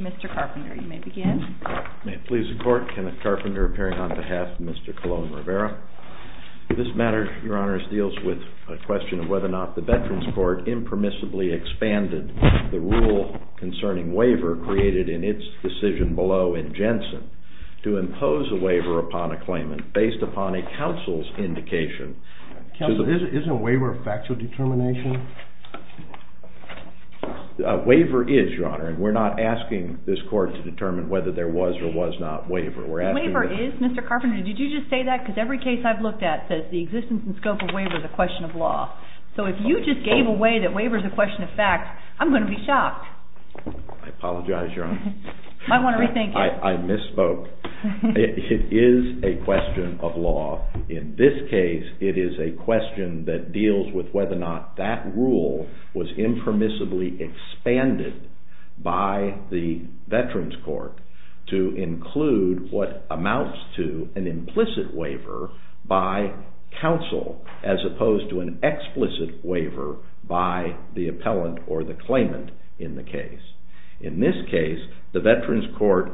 Mr. Carpenter, you may begin. May it please the Court, Kenneth Carpenter appearing on behalf of Mr. Colon-Rivera. This matter, Your Honor, deals with a question of whether or not the Veterans Court impermissibly expanded the rule concerning waiver created in its decision below in Jensen. To impose a waiver upon a claimant based upon a counsel's indication. Is a waiver a factual determination? A waiver is, Your Honor, and we're not asking this Court to determine whether there was or was not waiver. The waiver is, Mr. Carpenter. Did you just say that? Because every case I've looked at says the existence and scope of waiver is a question of law. So if you just gave away that waiver is a question of fact, I'm going to be shocked. I apologize, Your Honor. I want to rethink it. I misspoke. It is a question of law. In this case, it is a question that deals with whether or not that rule was impermissibly expanded by the Veterans Court to include what amounts to an implicit waiver by counsel as opposed to an explicit waiver by the appellant or the claimant in the case. In this case, the Veterans Court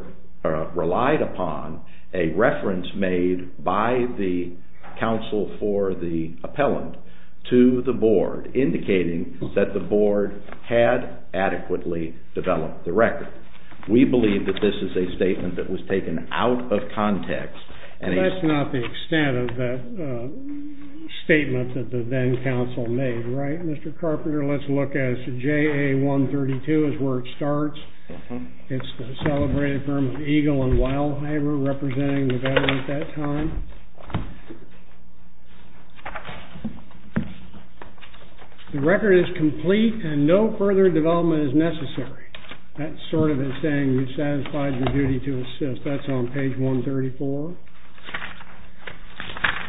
relied upon a reference made by the counsel for the appellant to the board indicating that the board had adequately developed the record. We believe that this is a statement that was taken out of context. That's not the extent of that statement that the then counsel made, right? Mr. Carpenter, let's look at it. JA-132 is where it starts. It's the celebrated firm of Eagle and Weilheimer representing the veterans at that time. The record is complete and no further development is necessary. That sort of is saying you've satisfied your duty to assist. That's on page 134.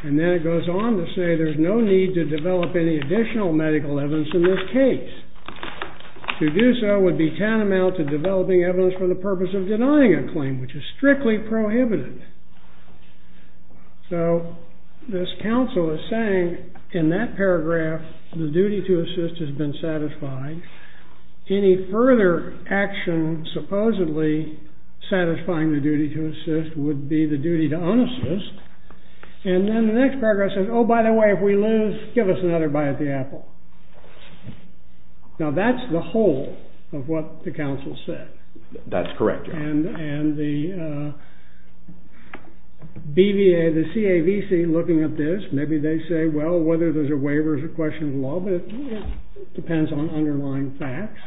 And then it goes on to say there's no need to develop any additional medical evidence in this case. To do so would be tantamount to developing evidence for the purpose of denying a claim, which is strictly prohibited. So this counsel is saying in that paragraph, the duty to assist has been satisfied. Any further action supposedly satisfying the duty to assist would be the duty to unassist. And then the next paragraph says, oh, by the way, if we lose, give us another bite of the apple. Now that's the whole of what the counsel said. That's correct. And the BVA, the CAVC looking at this, maybe they say, well, whether those are waivers or questions of law, but it depends on underlying facts.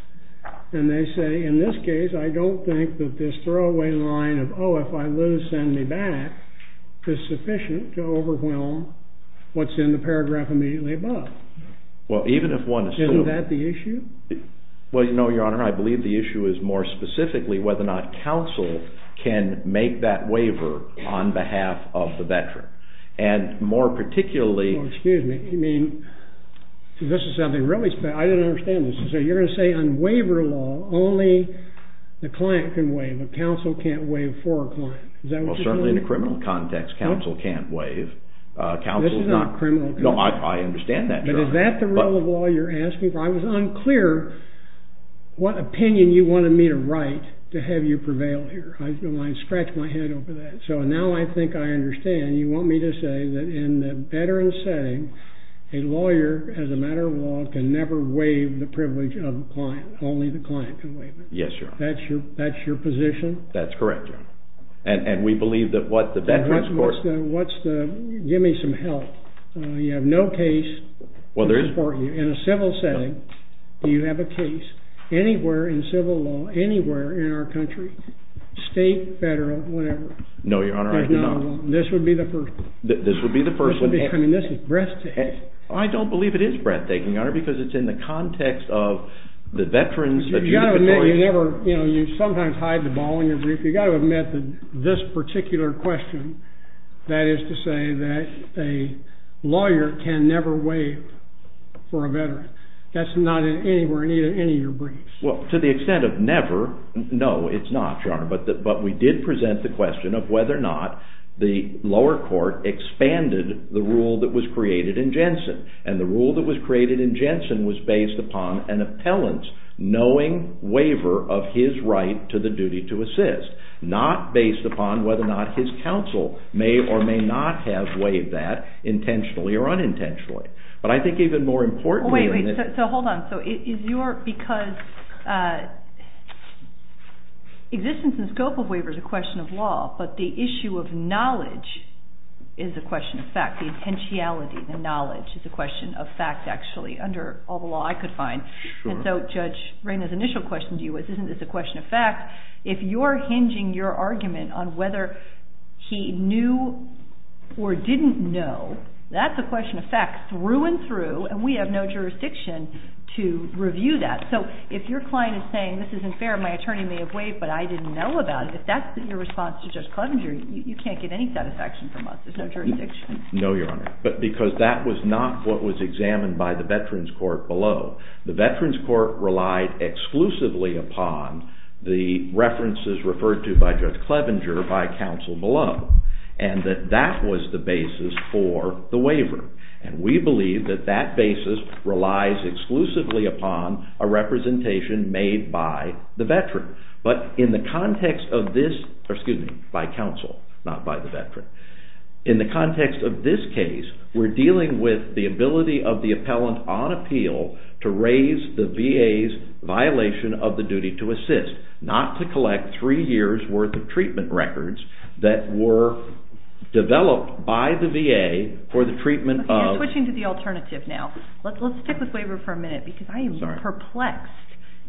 And they say, in this case, I don't think that this throwaway line of, oh, if I lose, send me back, is sufficient to overwhelm what's in the paragraph immediately above. Well, even if one assumes- Isn't that the issue? Well, your honor, I believe the issue is more specifically whether or not counsel can make that waiver on behalf of the veteran. And more particularly- Well, excuse me. I mean, this is something really special. I didn't understand this. So you're going to say on waiver law, only the client can waive. A counsel can't waive for a client. Is that what you're saying? Well, certainly in a criminal context, counsel can't waive. This is not criminal context. No, I understand that. But is that the rule of law you're asking for? Well, I was unclear what opinion you wanted me to write to have you prevail here. I scratched my head over that. So now I think I understand. You want me to say that in the veteran setting, a lawyer, as a matter of law, can never waive the privilege of the client. Only the client can waive it. Yes, your honor. That's your position? That's correct, your honor. And we believe that what the veterans court- Give me some help. You have no case- Well, there is- In a civil setting, do you have a case anywhere in civil law, anywhere in our country, state, federal, whatever? No, your honor, I do not. There's not a law. This would be the first one. This would be the first one. I mean, this is breathtaking. I don't believe it is breathtaking, your honor, because it's in the context of the veterans- You've got to admit, you sometimes hide the ball in your groove. You've got to admit that this particular question, that is to say that a lawyer can never waive for a veteran. That's not anywhere in any of your briefs. Well, to the extent of never, no, it's not, your honor. But we did present the question of whether or not the lower court expanded the rule that was created in Jensen. And the rule that was created in Jensen was based upon an appellant's knowing waiver of his right to the duty to assist, not based upon whether or not his counsel may or may not have waived that intentionally or unintentionally. But I think even more importantly- Wait, wait. So hold on. So is your- because existence and scope of waiver is a question of law, but the issue of knowledge is a question of fact. The intentionality, the knowledge is a question of fact, actually, under all the law I could find. And so Judge Rayner's initial question to you was, isn't this a question of fact? If you're hinging your argument on whether he knew or didn't know, that's a question of fact through and through, and we have no jurisdiction to review that. So if your client is saying, this isn't fair, my attorney may have waived, but I didn't know about it, if that's your response to Judge Clevenger, you can't get any satisfaction from us. There's no jurisdiction. No, Your Honor. But because that was not what was examined by the Veterans Court below. The Veterans Court relied exclusively upon the references referred to by Judge Clevenger by counsel below, and that that was the basis for the waiver. And we believe that that basis relies exclusively upon a representation made by the veteran. But in the context of this, excuse me, by counsel, not by the veteran. In the context of this case, we're dealing with the ability of the appellant on appeal to raise the VA's violation of the duty to assist, not to collect three years' worth of treatment records that were developed by the VA for the treatment of. You're switching to the alternative now. Let's stick with waiver for a minute, because I am perplexed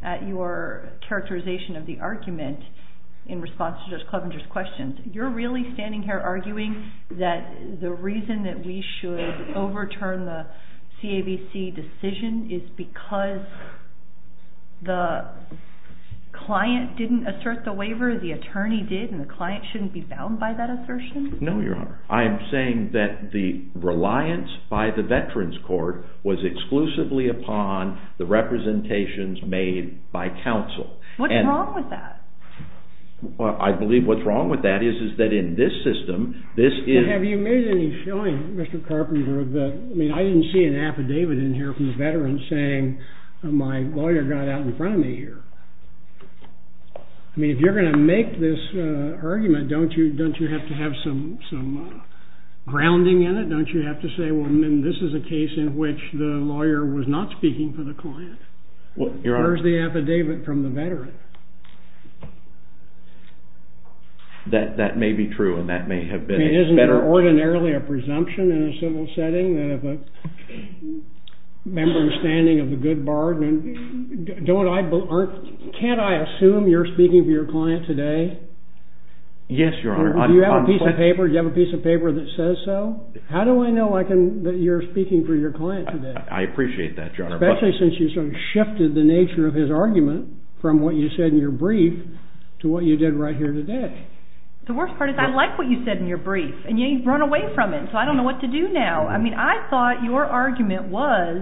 at your characterization of the argument in response to Judge Clevenger's questions. You're really standing here arguing that the reason that we should overturn the CAVC decision is because the client didn't assert the waiver, the attorney did, and the client shouldn't be bound by that assertion? No, Your Honor. I am saying that the reliance by the Veterans Court was exclusively upon the representations made by counsel. What's wrong with that? I believe what's wrong with that is that in this system, this is- Have you made any showing, Mr. Carpenter, that, I mean, I didn't see an affidavit in here from a veteran saying my lawyer got out in front of me here. I mean, if you're going to make this argument, don't you have to have some grounding in it? Don't you have to say, well, this is a case in which the lawyer was not speaking for the client? Well, Your Honor- Where's the affidavit from the veteran? That may be true, and that may have been a better- I mean, isn't it ordinarily a presumption in a civil setting that if a member is standing of the good bar, can't I assume you're speaking for your client today? Yes, Your Honor. Do you have a piece of paper that says so? How do I know that you're speaking for your client today? I appreciate that, Your Honor. Especially since you sort of shifted the nature of his argument from what you said in your brief to what you did right here today. The worst part is I like what you said in your brief, and yet you've run away from it, so I don't know what to do now. I mean, I thought your argument was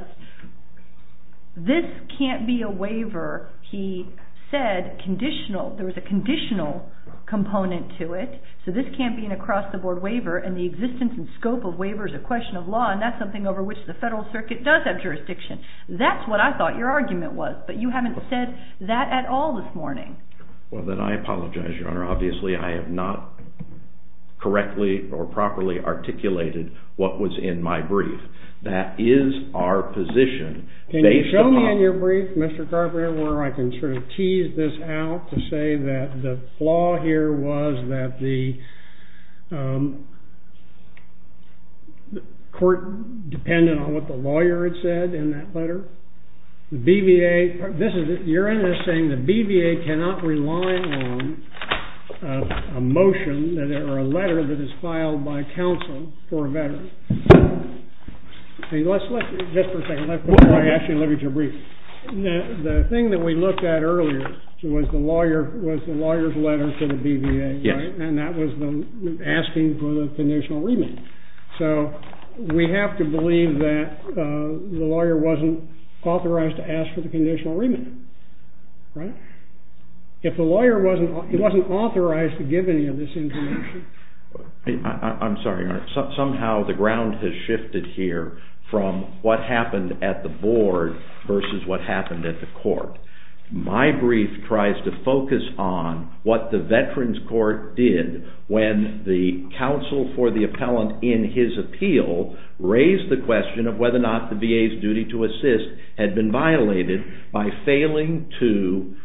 this can't be a waiver. He said conditional- there was a conditional component to it, so this can't be an across-the-board waiver, and the existence and scope of waiver is a question of law, and that's something over which the federal circuit does have jurisdiction. That's what I thought your argument was, but you haven't said that at all this morning. Well, then I apologize, Your Honor. Obviously, I have not correctly or properly articulated what was in my brief. That is our position. Can you show me in your brief, Mr. Carpenter, where I can sort of tease this out to say that the flaw here was that the court depended on what the lawyer had said in that letter? The BVA- you're in this saying the BVA cannot rely on a motion or a letter that is filed by counsel for a veteran. Just for a second, before I ask you to leave your brief. The thing that we looked at earlier was the lawyer's letter to the BVA, right? And that was them asking for the conditional remand. So we have to believe that the lawyer wasn't authorized to ask for the conditional remand, right? If the lawyer wasn't- he wasn't authorized to give any of this information- I'm sorry, Your Honor. Somehow the ground has shifted here from what happened at the board versus what happened at the court. My brief tries to focus on what the Veterans Court did when the counsel for the appellant in his appeal raised the question of whether or not the VA's duty to assist had been violated by failing to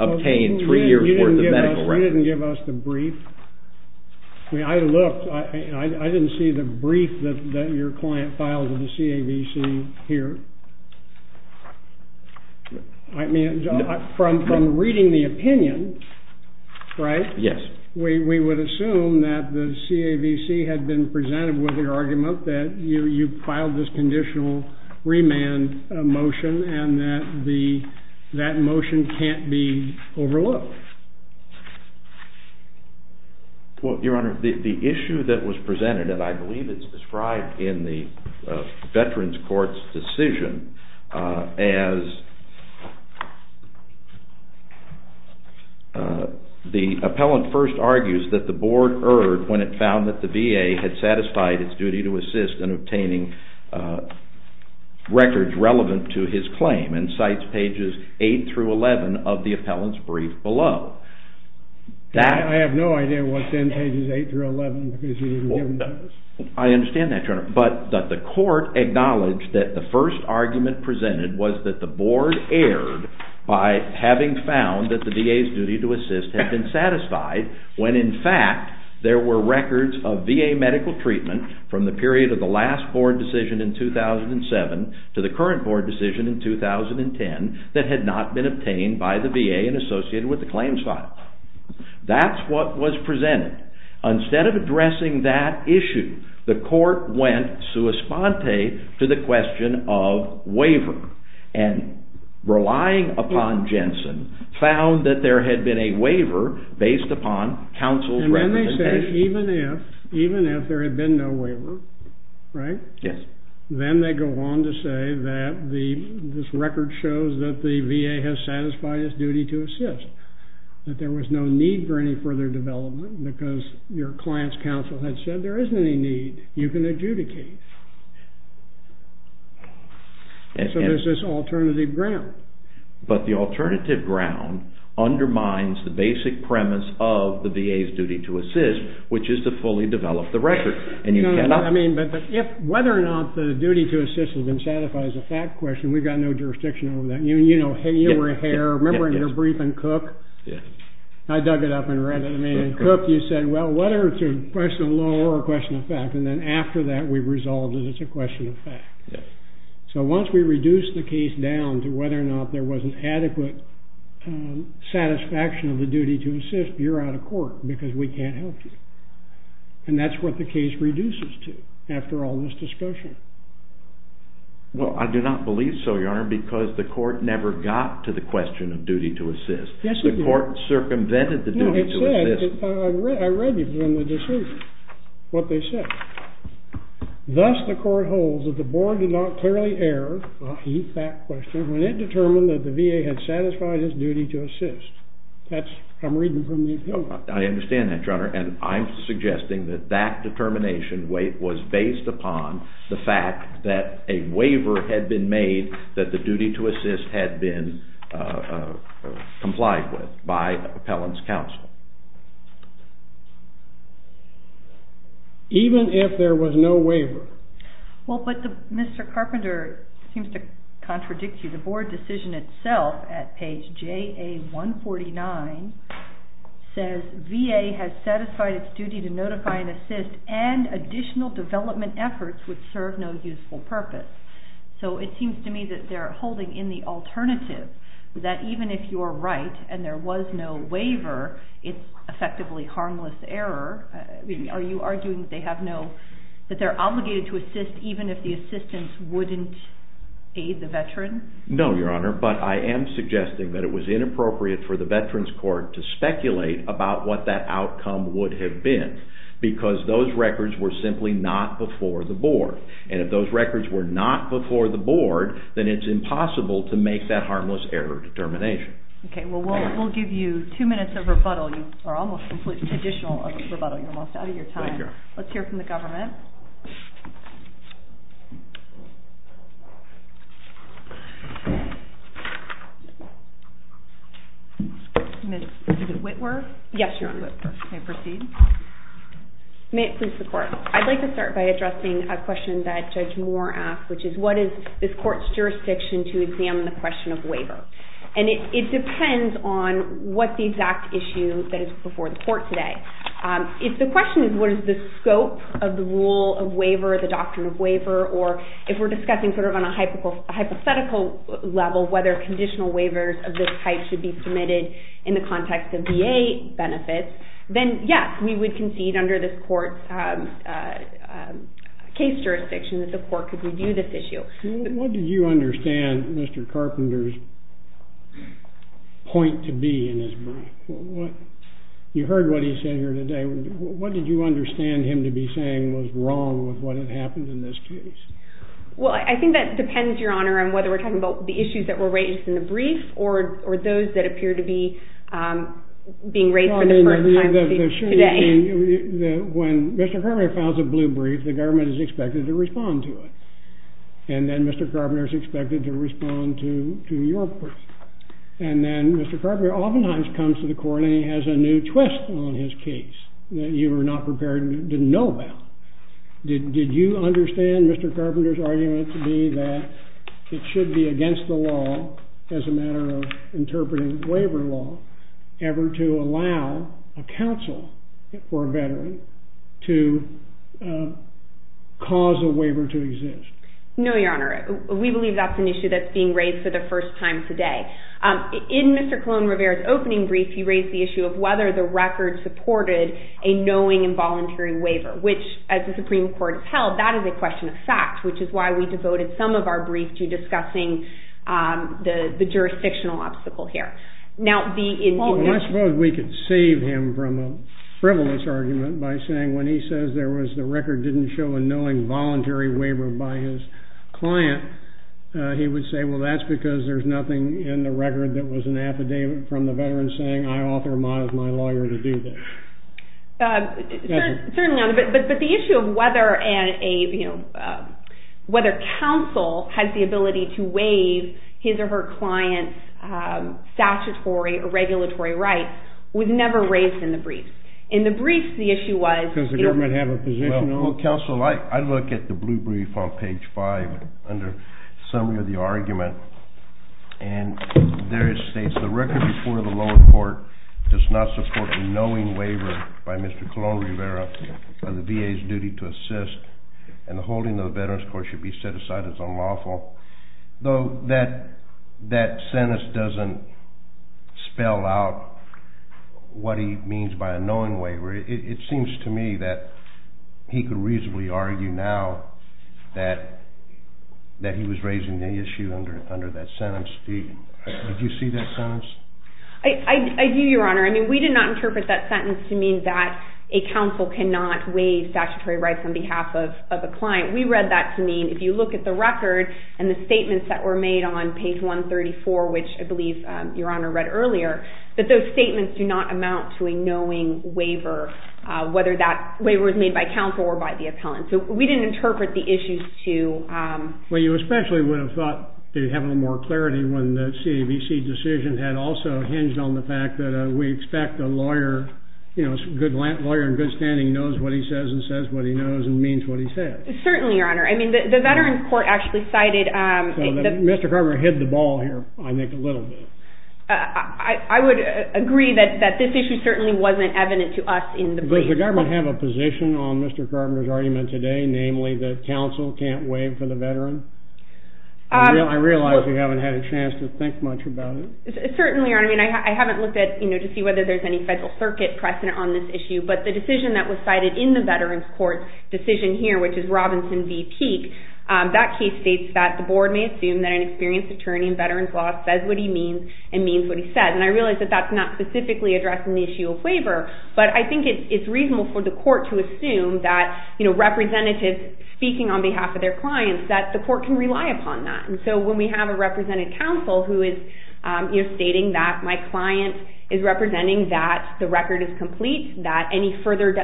obtain three years worth of medical records. You didn't give us the brief. I mean, I looked- I didn't see the brief that your client filed with the CAVC here. I mean, from reading the opinion, right? Yes. We would assume that the CAVC had been presented with the argument that you filed this conditional remand motion and that that motion can't be overlooked. Well, Your Honor, the issue that was presented- and I believe it's described in the Veterans Court's decision- as the appellant first argues that the board erred when it found that the VA had satisfied its duty to assist in obtaining records relevant to his claim and cites pages 8 through 11 of the appellant's brief below. I have no idea what's in pages 8 through 11 because you didn't give them to us. I understand that, Your Honor, but the court acknowledged that the first argument presented was that the board erred by having found that the VA's duty to assist had been satisfied when, in fact, there were records of VA medical treatment from the period of the last board decision in 2007 to the current board decision in 2010 that had not been obtained by the VA and associated with the claims file. That's what was presented. Instead of addressing that issue, the court went sua sponte to the question of waiver and, relying upon Jensen, found that there had been a waiver based upon counsel's recommendation. Even if there had been no waiver, then they go on to say that this record shows that the VA has satisfied its duty to assist, that there was no need for any further development because your client's counsel had said there isn't any need. You can adjudicate. So there's this alternative ground. But the alternative ground undermines the basic premise of the VA's duty to assist, which is to fully develop the record. I mean, whether or not the duty to assist has been satisfied is a fact question. We've got no jurisdiction over that. You know, you were here. Remember in your brief in Cook? I dug it up and read it. I mean, in Cook, you said, well, whether it's a question of law or a question of fact. And then after that, we resolved that it's a question of fact. So once we reduce the case down to whether or not there was an adequate satisfaction of the duty to assist, you're out of court because we can't help you. And that's what the case reduces to after all this discussion. Well, I do not believe so, Your Honor, because the court never got to the question of duty to assist. The court circumvented the duty to assist. I read you from the decision what they said. Thus, the court holds that the board did not clearly err on a fact question when it determined that the VA had satisfied its duty to assist. I'm reading from the appellant. Even if there was no waiver. Well, but Mr. Carpenter seems to contradict you. The board decision itself at page JA149 says VA has satisfied its duty to notify and assist and additional development efforts would serve no useful purpose. So it seems to me that they're holding in the alternative that even if you're right and there was no waiver, it's effectively harmless error. Are you arguing that they're obligated to assist even if the assistance wouldn't aid the veteran? No, Your Honor, but I am suggesting that it was inappropriate for the Veterans Court to speculate about what that outcome would have been because those records were simply not before the board. And if those records were not before the board, then it's impossible to make that harmless error determination. Okay, well, we'll give you two minutes of rebuttal. You're almost out of your time. Let's hear from the government. Ms. Whitworth? Yes, Your Honor. May I proceed? May it please the court. I'd like to start by addressing a question that Judge Moore asked, which is what is this court's jurisdiction to examine the question of waiver? And it depends on what the exact issue that is before the court today. If the question is what is the scope of the rule of waiver, the doctrine of waiver, or if we're discussing sort of on a hypothetical level whether conditional waivers of this type should be submitted in the context of VA benefits, then yes, we would concede under this court's case jurisdiction that the court could review this issue. What did you understand Mr. Carpenter's point to be in his brief? You heard what he said here today. What did you understand him to be saying was wrong with what had happened in this case? Well, I think that depends, Your Honor, on whether we're talking about the issues that were raised in the brief or those that appear to be being raised for the first time today. When Mr. Carpenter files a blue brief, the government is expected to respond to it. And then Mr. Carpenter is expected to respond to your brief. And then Mr. Carpenter oftentimes comes to the court and he has a new twist on his case that you were not prepared to know about. Did you understand Mr. Carpenter's argument to be that it should be against the law as a matter of interpreting waiver law ever to allow a counsel for a veteran to cause a waiver to exist? No, Your Honor. We believe that's an issue that's being raised for the first time today. In Mr. Colon-Rivera's opening brief, he raised the issue of whether the record supported a knowing and voluntary waiver, which as the Supreme Court has held, that is a question of fact, which is why we devoted some of our brief to discussing the jurisdictional obstacle here. Well, I suppose we could save him from a frivolous argument by saying when he says the record didn't show a knowing voluntary waiver by his client, he would say, well, that's because there's nothing in the record that was an affidavit from the veteran saying I authorize my lawyer to do this. Certainly not, but the issue of whether counsel has the ability to waive his or her client's statutory or regulatory rights was never raised in the brief. In the brief, the issue was… Because the government has a position… Well, counsel, I look at the blue brief on page 5 under summary of the argument, and there it states, the record before the lower court does not support a knowing waiver by Mr. Colon-Rivera of the VA's duty to assist, and the holding of the veteran's court should be set aside as unlawful. Though that sentence doesn't spell out what he means by a knowing waiver. It seems to me that he could reasonably argue now that he was raising the issue under that sentence. Did you see that sentence? I do, Your Honor. I mean, we did not interpret that sentence to mean that a counsel cannot waive statutory rights on behalf of a client. We read that to mean if you look at the record and the statements that were made on page 134, which I believe Your Honor read earlier, that those statements do not amount to a knowing waiver, whether that waiver was made by counsel or by the appellant. So we didn't interpret the issues to… Well, you especially would have thought they'd have a little more clarity when the CAVC decision had also hinged on the fact that we expect a lawyer, you know, a good lawyer in good standing knows what he says and says what he knows and means what he says. Certainly, Your Honor. I mean, the veteran's court actually cited… Mr. Carver hit the ball here, I think, a little bit. I would agree that this issue certainly wasn't evident to us in the brief. Does the government have a position on Mr. Carver's argument today, namely that counsel can't waive for the veteran? I realize we haven't had a chance to think much about it. Certainly, Your Honor. I mean, I haven't looked at, you know, to see whether there's any federal circuit precedent on this issue, but the decision that was cited in the veteran's court decision here, which is Robinson v. Peek, that case states that the board may assume that an experienced attorney in veterans law says what he means and means what he says. And I realize that that's not specifically addressing the issue of waiver, but I think it's reasonable for the court to assume that, you know, representatives speaking on behalf of their clients, that the court can rely upon that. And so when we have a representative counsel who is, you know, stating that my client is representing that the record is complete, that any further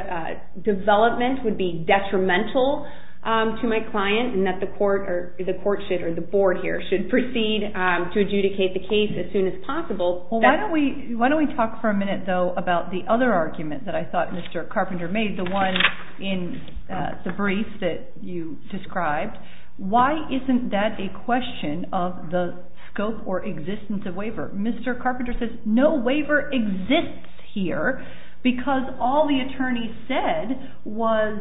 development would be detrimental to my client, and that the court should, or the board here, should proceed to adjudicate the case as soon as possible… Why don't we talk for a minute, though, about the other argument that I thought Mr. Carpenter made, the one in the brief that you described. Why isn't that a question of the scope or existence of waiver? Mr. Carpenter says no waiver exists here because all the attorney said was,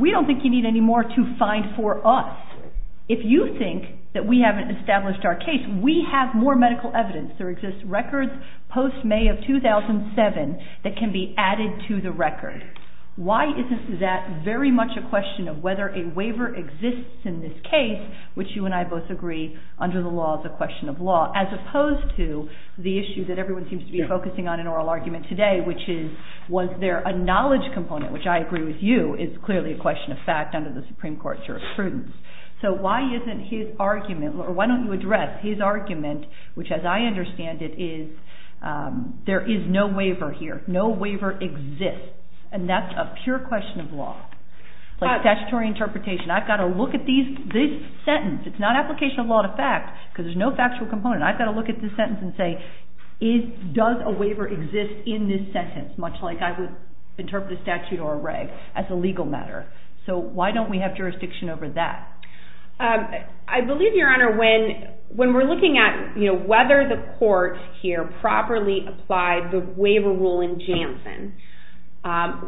we don't think you need any more to find for us. If you think that we haven't established our case, we have more medical evidence. There exists records post-May of 2007 that can be added to the record. Why isn't that very much a question of whether a waiver exists in this case, which you and I both agree under the law is a question of law, as opposed to the issue that everyone seems to be focusing on in oral argument today, which is, was there a knowledge component, which I agree with you, is clearly a question of fact under the Supreme Court's jurisprudence. So why isn't his argument, or why don't you address his argument, which as I understand it is, there is no waiver here. No waiver exists. And that's a pure question of law. Statutory interpretation. I've got to look at this sentence. It's not application of law to fact, because there's no factual component. I've got to look at this sentence and say, does a waiver exist in this sentence, much like I would interpret a statute or a reg as a legal matter. So why don't we have jurisdiction over that? I believe, Your Honor, when we're looking at whether the court here properly applied the waiver rule in Janssen,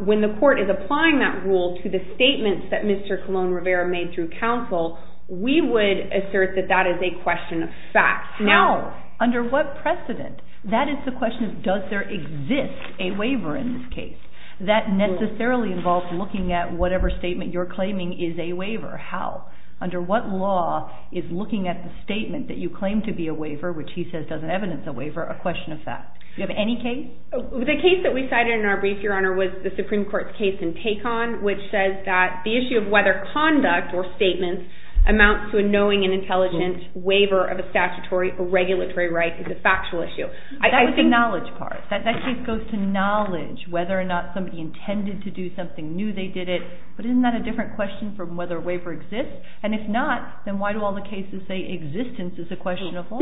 when the court is applying that rule to the statements that Mr. Colon Rivera made through counsel, we would assert that that is a question of fact. Now, under what precedent? That is the question of does there exist a waiver in this case? That necessarily involves looking at whatever statement you're claiming is a waiver. How? Under what law is looking at the statement that you claim to be a waiver, which he says doesn't evidence a waiver, a question of fact? Do you have any case? The case that we cited in our brief, Your Honor, was the Supreme Court's case in Tacon, which says that the issue of whether conduct or statements amounts to a knowing and intelligent waiver of a statutory or regulatory right is a factual issue. That was the knowledge part. That case goes to knowledge, whether or not somebody intended to do something, knew they did it. But isn't that a different question from whether a waiver exists? And if not, then why do all the cases say existence is a question of law?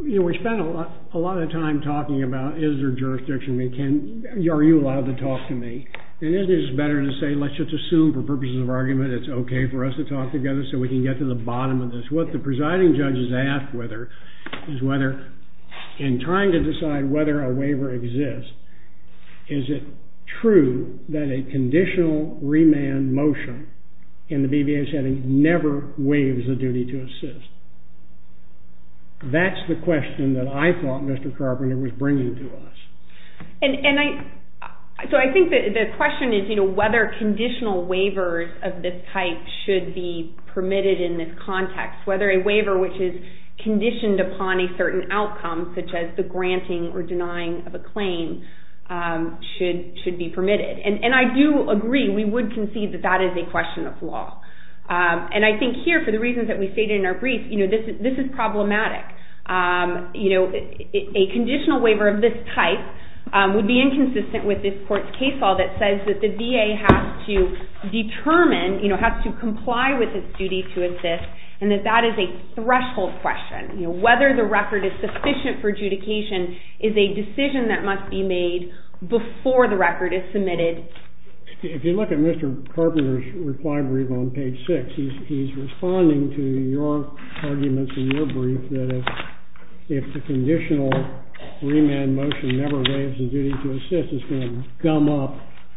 We spend a lot of time talking about is there jurisdiction? Are you allowed to talk to me? And isn't it better to say let's just assume for purposes of argument it's okay for us to talk together so we can get to the bottom of this? And I think that's the question that I thought Mr. Carpenter was bringing to us. And I think the question is whether conditional waivers of this type should be permitted in this context, whether or not it's a conditional waiver. Whether a waiver which is conditioned upon a certain outcome, such as the granting or denying of a claim, should be permitted. And I do agree, we would concede that that is a question of law. And I think here, for the reasons that we stated in our brief, this is problematic. A conditional waiver of this type would be inconsistent with this court's case law that says that the VA has to determine, has to comply with its duty to exist, and that that is a threshold question. Whether the record is sufficient for adjudication is a decision that must be made before the record is submitted. If you look at Mr. Carpenter's reply brief on page 6, he's responding to your arguments in your brief that if the conditional remand motion never evades the duty to exist, it's going to gum up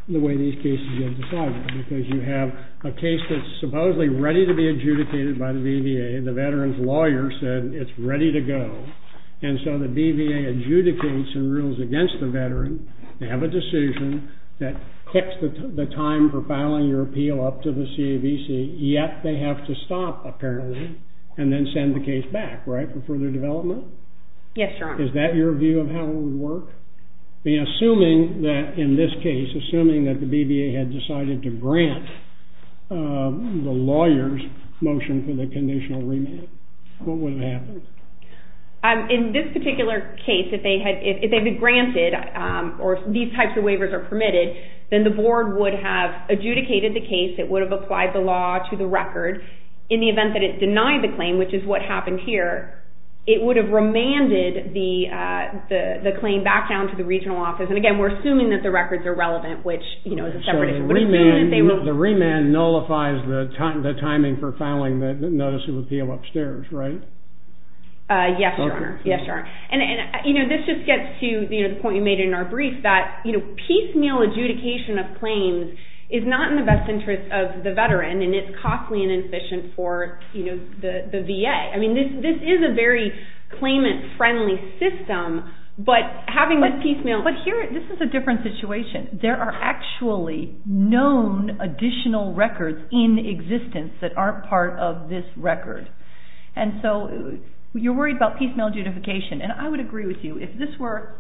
the way these cases get decided. Because you have a case that's supposedly ready to be adjudicated by the VVA, and the veteran's lawyer said it's ready to go. And so the VVA adjudicates and rules against the veteran. They have a decision that kicks the time for filing your appeal up to the CAVC, yet they have to stop, apparently, and then send the case back, right, for further development? Yes, Your Honor. Is that your view of how it would work? Assuming that, in this case, assuming that the VVA had decided to grant the lawyer's motion for the conditional remand, what would have happened? In this particular case, if they had been granted, or these types of waivers are permitted, then the board would have adjudicated the case. It would have applied the law to the record. In the event that it denied the claim, which is what happened here, it would have remanded the claim back down to the regional office. And, again, we're assuming that the records are relevant, which, you know, as a separate issue. The remand nullifies the timing for filing the notice of appeal upstairs, right? Yes, Your Honor. Yes, Your Honor. And, you know, this just gets to the point you made in our brief, that, you know, piecemeal adjudication of claims is not in the best interest of the veteran, and it's costly and inefficient for, you know, the VA. I mean, this is a very claimant-friendly system, but having this piecemeal… But here, this is a different situation. There are actually known additional records in existence that aren't part of this record, and so you're worried about piecemeal adjudication. And I would agree with you. If this were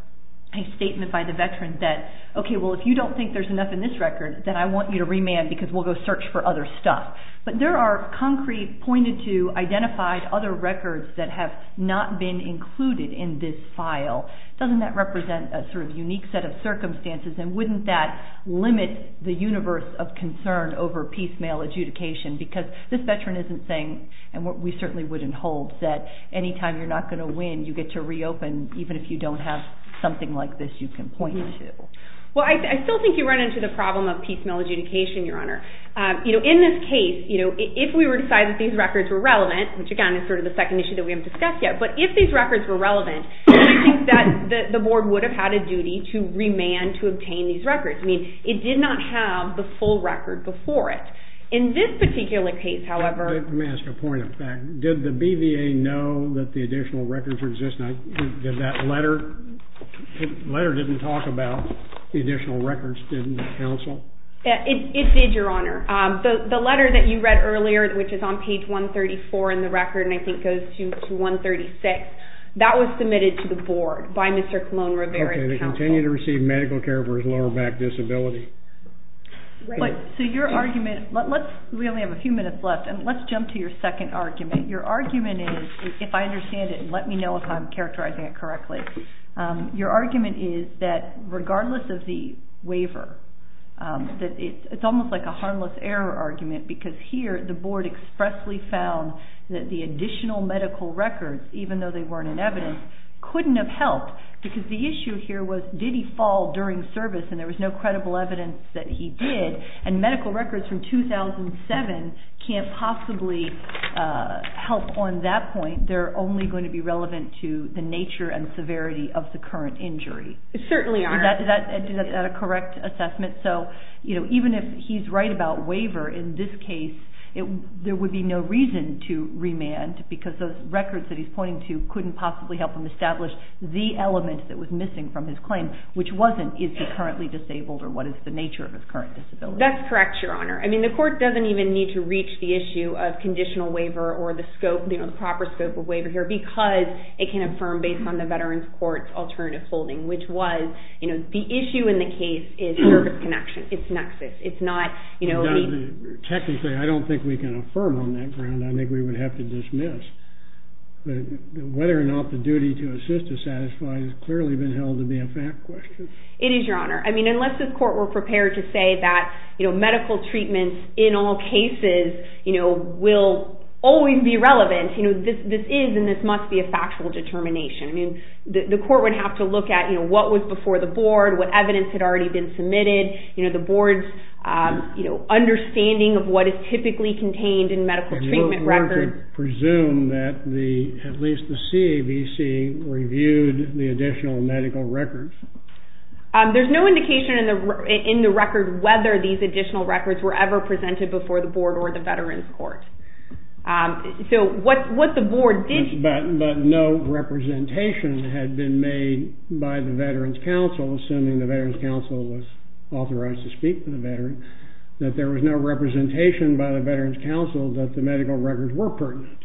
a statement by the veteran that, okay, well, if you don't think there's enough in this record, then I want you to remand because we'll go search for other stuff. But there are concrete, pointed-to, identified other records that have not been included in this file. Doesn't that represent a sort of unique set of circumstances, and wouldn't that limit the universe of concern over piecemeal adjudication? Because this veteran isn't saying, and we certainly wouldn't hold, that anytime you're not going to win, you get to reopen, even if you don't have something like this you can point to. Well, I still think you run into the problem of piecemeal adjudication, Your Honor. You know, in this case, you know, if we were to decide that these records were relevant, which, again, is sort of the second issue that we haven't discussed yet, but if these records were relevant, we think that the board would have had a duty to remand to obtain these records. I mean, it did not have the full record before it. In this particular case, however — Let me ask a point of fact. Did the BVA know that the additional records were existing? Did that letter — the letter didn't talk about the additional records. Didn't it counsel? It did, Your Honor. The letter that you read earlier, which is on page 134 in the record, and I think goes to 136, that was submitted to the board by Mr. Colon-Rivera's counsel. Okay. They continue to receive medical care for his lower back disability. Right. So your argument — let's — we only have a few minutes left, and let's jump to your second argument. Your argument is — if I understand it, let me know if I'm characterizing it correctly. Your argument is that regardless of the waiver, that it's almost like a harmless error argument, because here the board expressly found that the additional medical records, even though they weren't in evidence, couldn't have helped because the issue here was did he fall during service, and there was no credible evidence that he did, and medical records from 2007 can't possibly help on that point. They're only going to be relevant to the nature and severity of the current injury. Certainly, Your Honor. Is that a correct assessment? So even if he's right about waiver in this case, there would be no reason to remand because those records that he's pointing to couldn't possibly help him establish the element that was missing from his claim, which wasn't is he currently disabled or what is the nature of his current disability. That's correct, Your Honor. I mean, the court doesn't even need to reach the issue of conditional waiver or the scope, the proper scope of waiver here because it can affirm based on the Veterans Court's alternative holding, which was the issue in the case is service connection. It's nexus. It's not — Technically, I don't think we can affirm on that ground. I think we would have to dismiss. But whether or not the duty to assist is satisfied has clearly been held to be a fact question. It is, Your Honor. I mean, unless the court were prepared to say that medical treatments in all cases will always be relevant, this is and this must be a factual determination. I mean, the court would have to look at what was before the board, what evidence had already been submitted, the board's understanding of what is typically contained in medical treatment records. We're to presume that at least the CAVC reviewed the additional medical records. There's no indication in the record whether these additional records were ever presented before the board or the Veterans Court. So what the board did — But no representation had been made by the Veterans Council, assuming the Veterans Council was authorized to speak to the veteran, that there was no representation by the Veterans Council that the medical records were pertinent.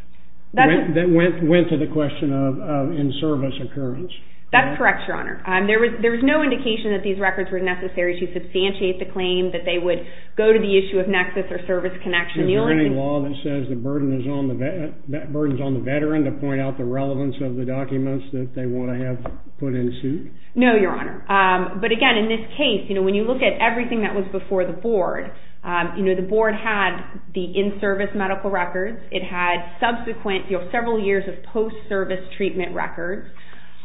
That went to the question of in-service occurrence. That's correct, Your Honor. There was no indication that these records were necessary to substantiate the claim, that they would go to the issue of nexus or service connection. Is there any law that says the burden is on the veteran to point out the relevance of the documents that they want to have put in suit? No, Your Honor. But again, in this case, when you look at everything that was before the board, the board had the in-service medical records. It had subsequent, several years of post-service treatment records.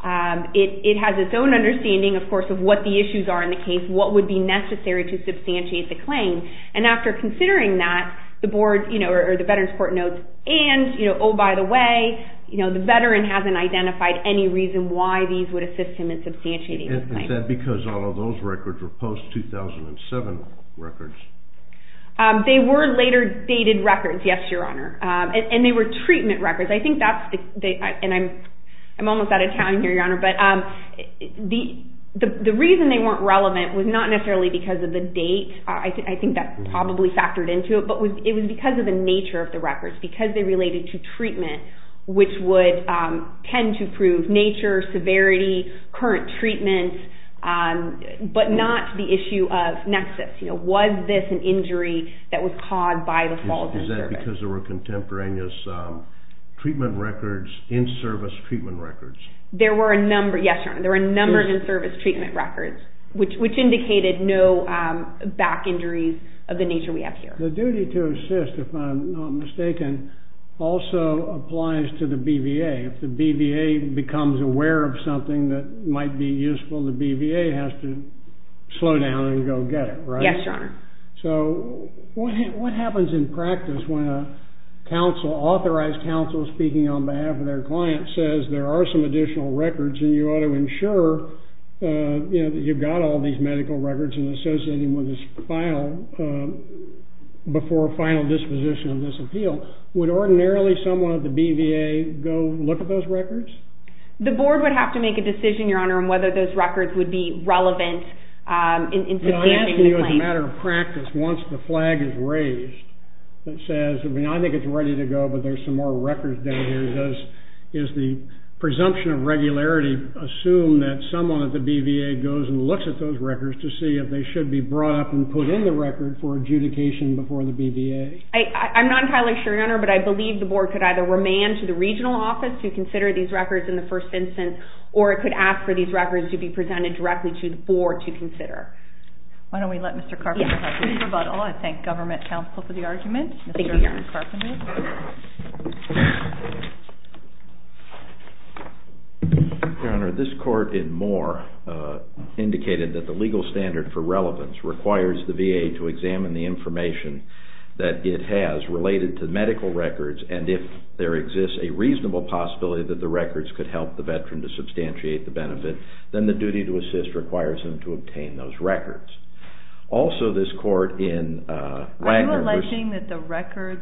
It has its own understanding, of course, of what the issues are in the case, what would be necessary to substantiate the claim. And after considering that, the board or the Veterans Court notes, and, oh, by the way, the veteran hasn't identified any reason why these would assist him in substantiating the claim. Is that because all of those records were post-2007 records? They were later-dated records, yes, Your Honor. And they were treatment records. And I'm almost out of time here, Your Honor. But the reason they weren't relevant was not necessarily because of the date. I think that probably factored into it. But it was because of the nature of the records, because they related to treatment, which would tend to prove nature, severity, current treatment, but not the issue of nexus. Was this an injury that was caused by the fall of the service? Because there were contemporaneous treatment records, in-service treatment records. There were a number, yes, Your Honor, there were a number of in-service treatment records, which indicated no back injuries of the nature we have here. The duty to assist, if I'm not mistaken, also applies to the BVA. If the BVA becomes aware of something that might be useful, the BVA has to slow down and go get it, right? Yes, Your Honor. So what happens in practice when an authorized counsel speaking on behalf of their client says, there are some additional records and you ought to ensure that you've got all these medical records and associate them with this file before a final disposition of this appeal? Would ordinarily someone at the BVA go look at those records? The board would have to make a decision, Your Honor, I'm asking you as a matter of practice, once the flag is raised, that says, I mean, I think it's ready to go, but there's some more records down here. Does the presumption of regularity assume that someone at the BVA goes and looks at those records to see if they should be brought up and put in the record for adjudication before the BVA? I'm not entirely sure, Your Honor, but I believe the board could either remand to the regional office to consider these records in the first instance, or it could ask for these records to be presented directly to the board to consider. Why don't we let Mr. Carpenter have the rebuttal. I thank government counsel for the argument. Thank you, Your Honor. Your Honor, this court in Moore indicated that the legal standard for relevance requires the VA to examine the information that it has related to medical records, and if there exists a reasonable possibility that the records could help the veteran to substantiate the benefit, then the duty to assist requires them to obtain those records. Also, this court in Wagner was... Are you alleging that the records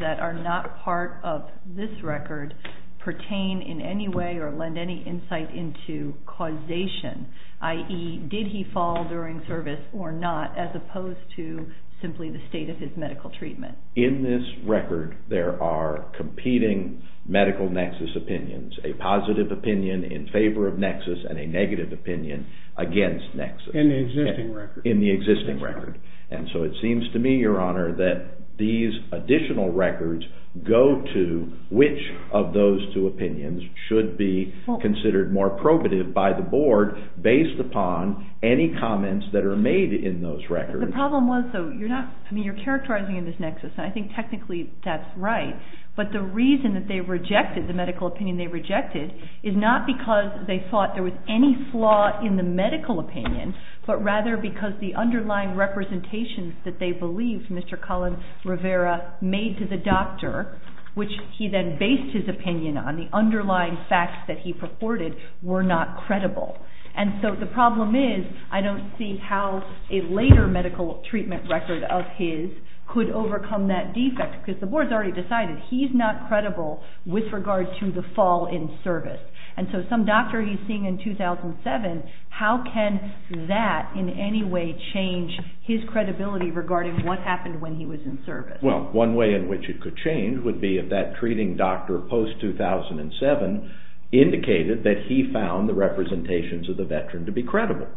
that are not part of this record pertain in any way or lend any insight into causation, i.e., did he fall during service or not, as opposed to simply the state of his medical treatment? In this record, there are competing medical nexus opinions, a positive opinion in favor of nexus and a negative opinion against nexus. In the existing record. In the existing record. And so it seems to me, Your Honor, that these additional records go to which of those two opinions should be considered more probative by the board based upon any comments that are made in those records. The problem was, though, you're not... I mean, you're characterizing in this nexus, and I think technically that's right, but the reason that they rejected the medical opinion they rejected is not because they thought there was any flaw in the medical opinion, but rather because the underlying representations that they believed Mr. Colin Rivera made to the doctor, which he then based his opinion on, the underlying facts that he purported were not credible. And so the problem is I don't see how a later medical treatment record of his could overcome that defect, because the board's already decided he's not credible with regard to the fall in service. And so some doctor he's seeing in 2007, how can that in any way change his credibility regarding what happened when he was in service? Well, one way in which it could change would be if that treating doctor post-2007 indicated that he found the representations of the veteran to be credible,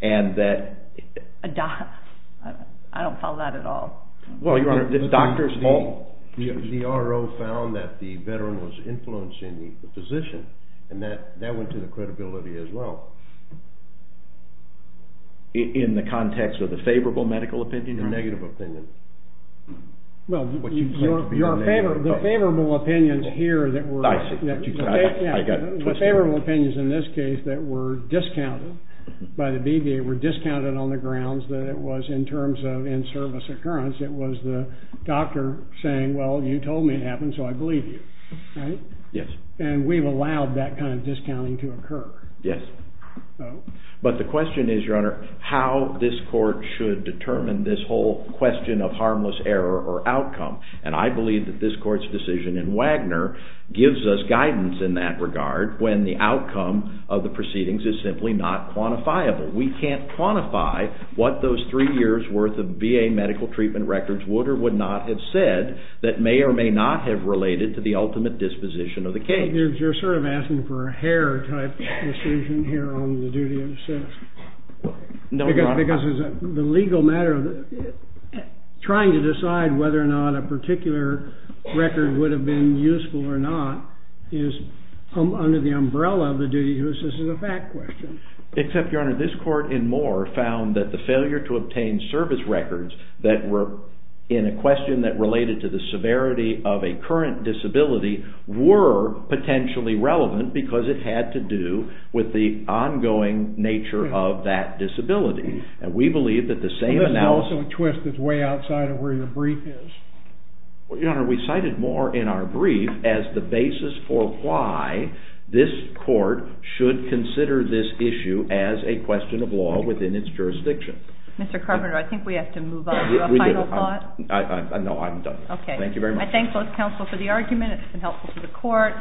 and that... I don't follow that at all. Well, Your Honor, the doctors all... The RO found that the veteran was influencing the physician, and that went to the credibility as well. In the context of the favorable medical opinion? The negative opinion. Well, the favorable opinions here that were... I see. I got it twisted. The favorable opinions in this case that were discounted by the BBA, were discounted on the grounds that it was in terms of in-service occurrence, it was the doctor saying, well, you told me it happened, so I believe you, right? Yes. And we've allowed that kind of discounting to occur. Yes. But the question is, Your Honor, how this court should determine this whole question of harmless error or outcome. And I believe that this court's decision in Wagner gives us guidance in that regard when the outcome of the proceedings is simply not quantifiable. We can't quantify what those three years' worth of BA medical treatment records would or would not have said that may or may not have related to the ultimate disposition of the case. You're sort of asking for a hair-type decision here on the duty to assist. No, Your Honor. Because the legal matter of trying to decide whether or not a particular record would have been useful or not is under the umbrella of the duty to assist as a fact question. Except, Your Honor, this court and more found that the failure to obtain service records that were in a question that related to the severity of a current disability were potentially relevant because it had to do with the ongoing nature of that disability. And we believe that the same analysis... But that's also a twist that's way outside of where your brief is. Well, Your Honor, we cited more in our brief as the basis for why this court should consider this issue as a question of law within its jurisdiction. Mr. Carpenter, I think we have to move on to a final thought. No, I'm done. Okay. Thank you very much. I thank both counsel for the argument. It's been helpful to the court.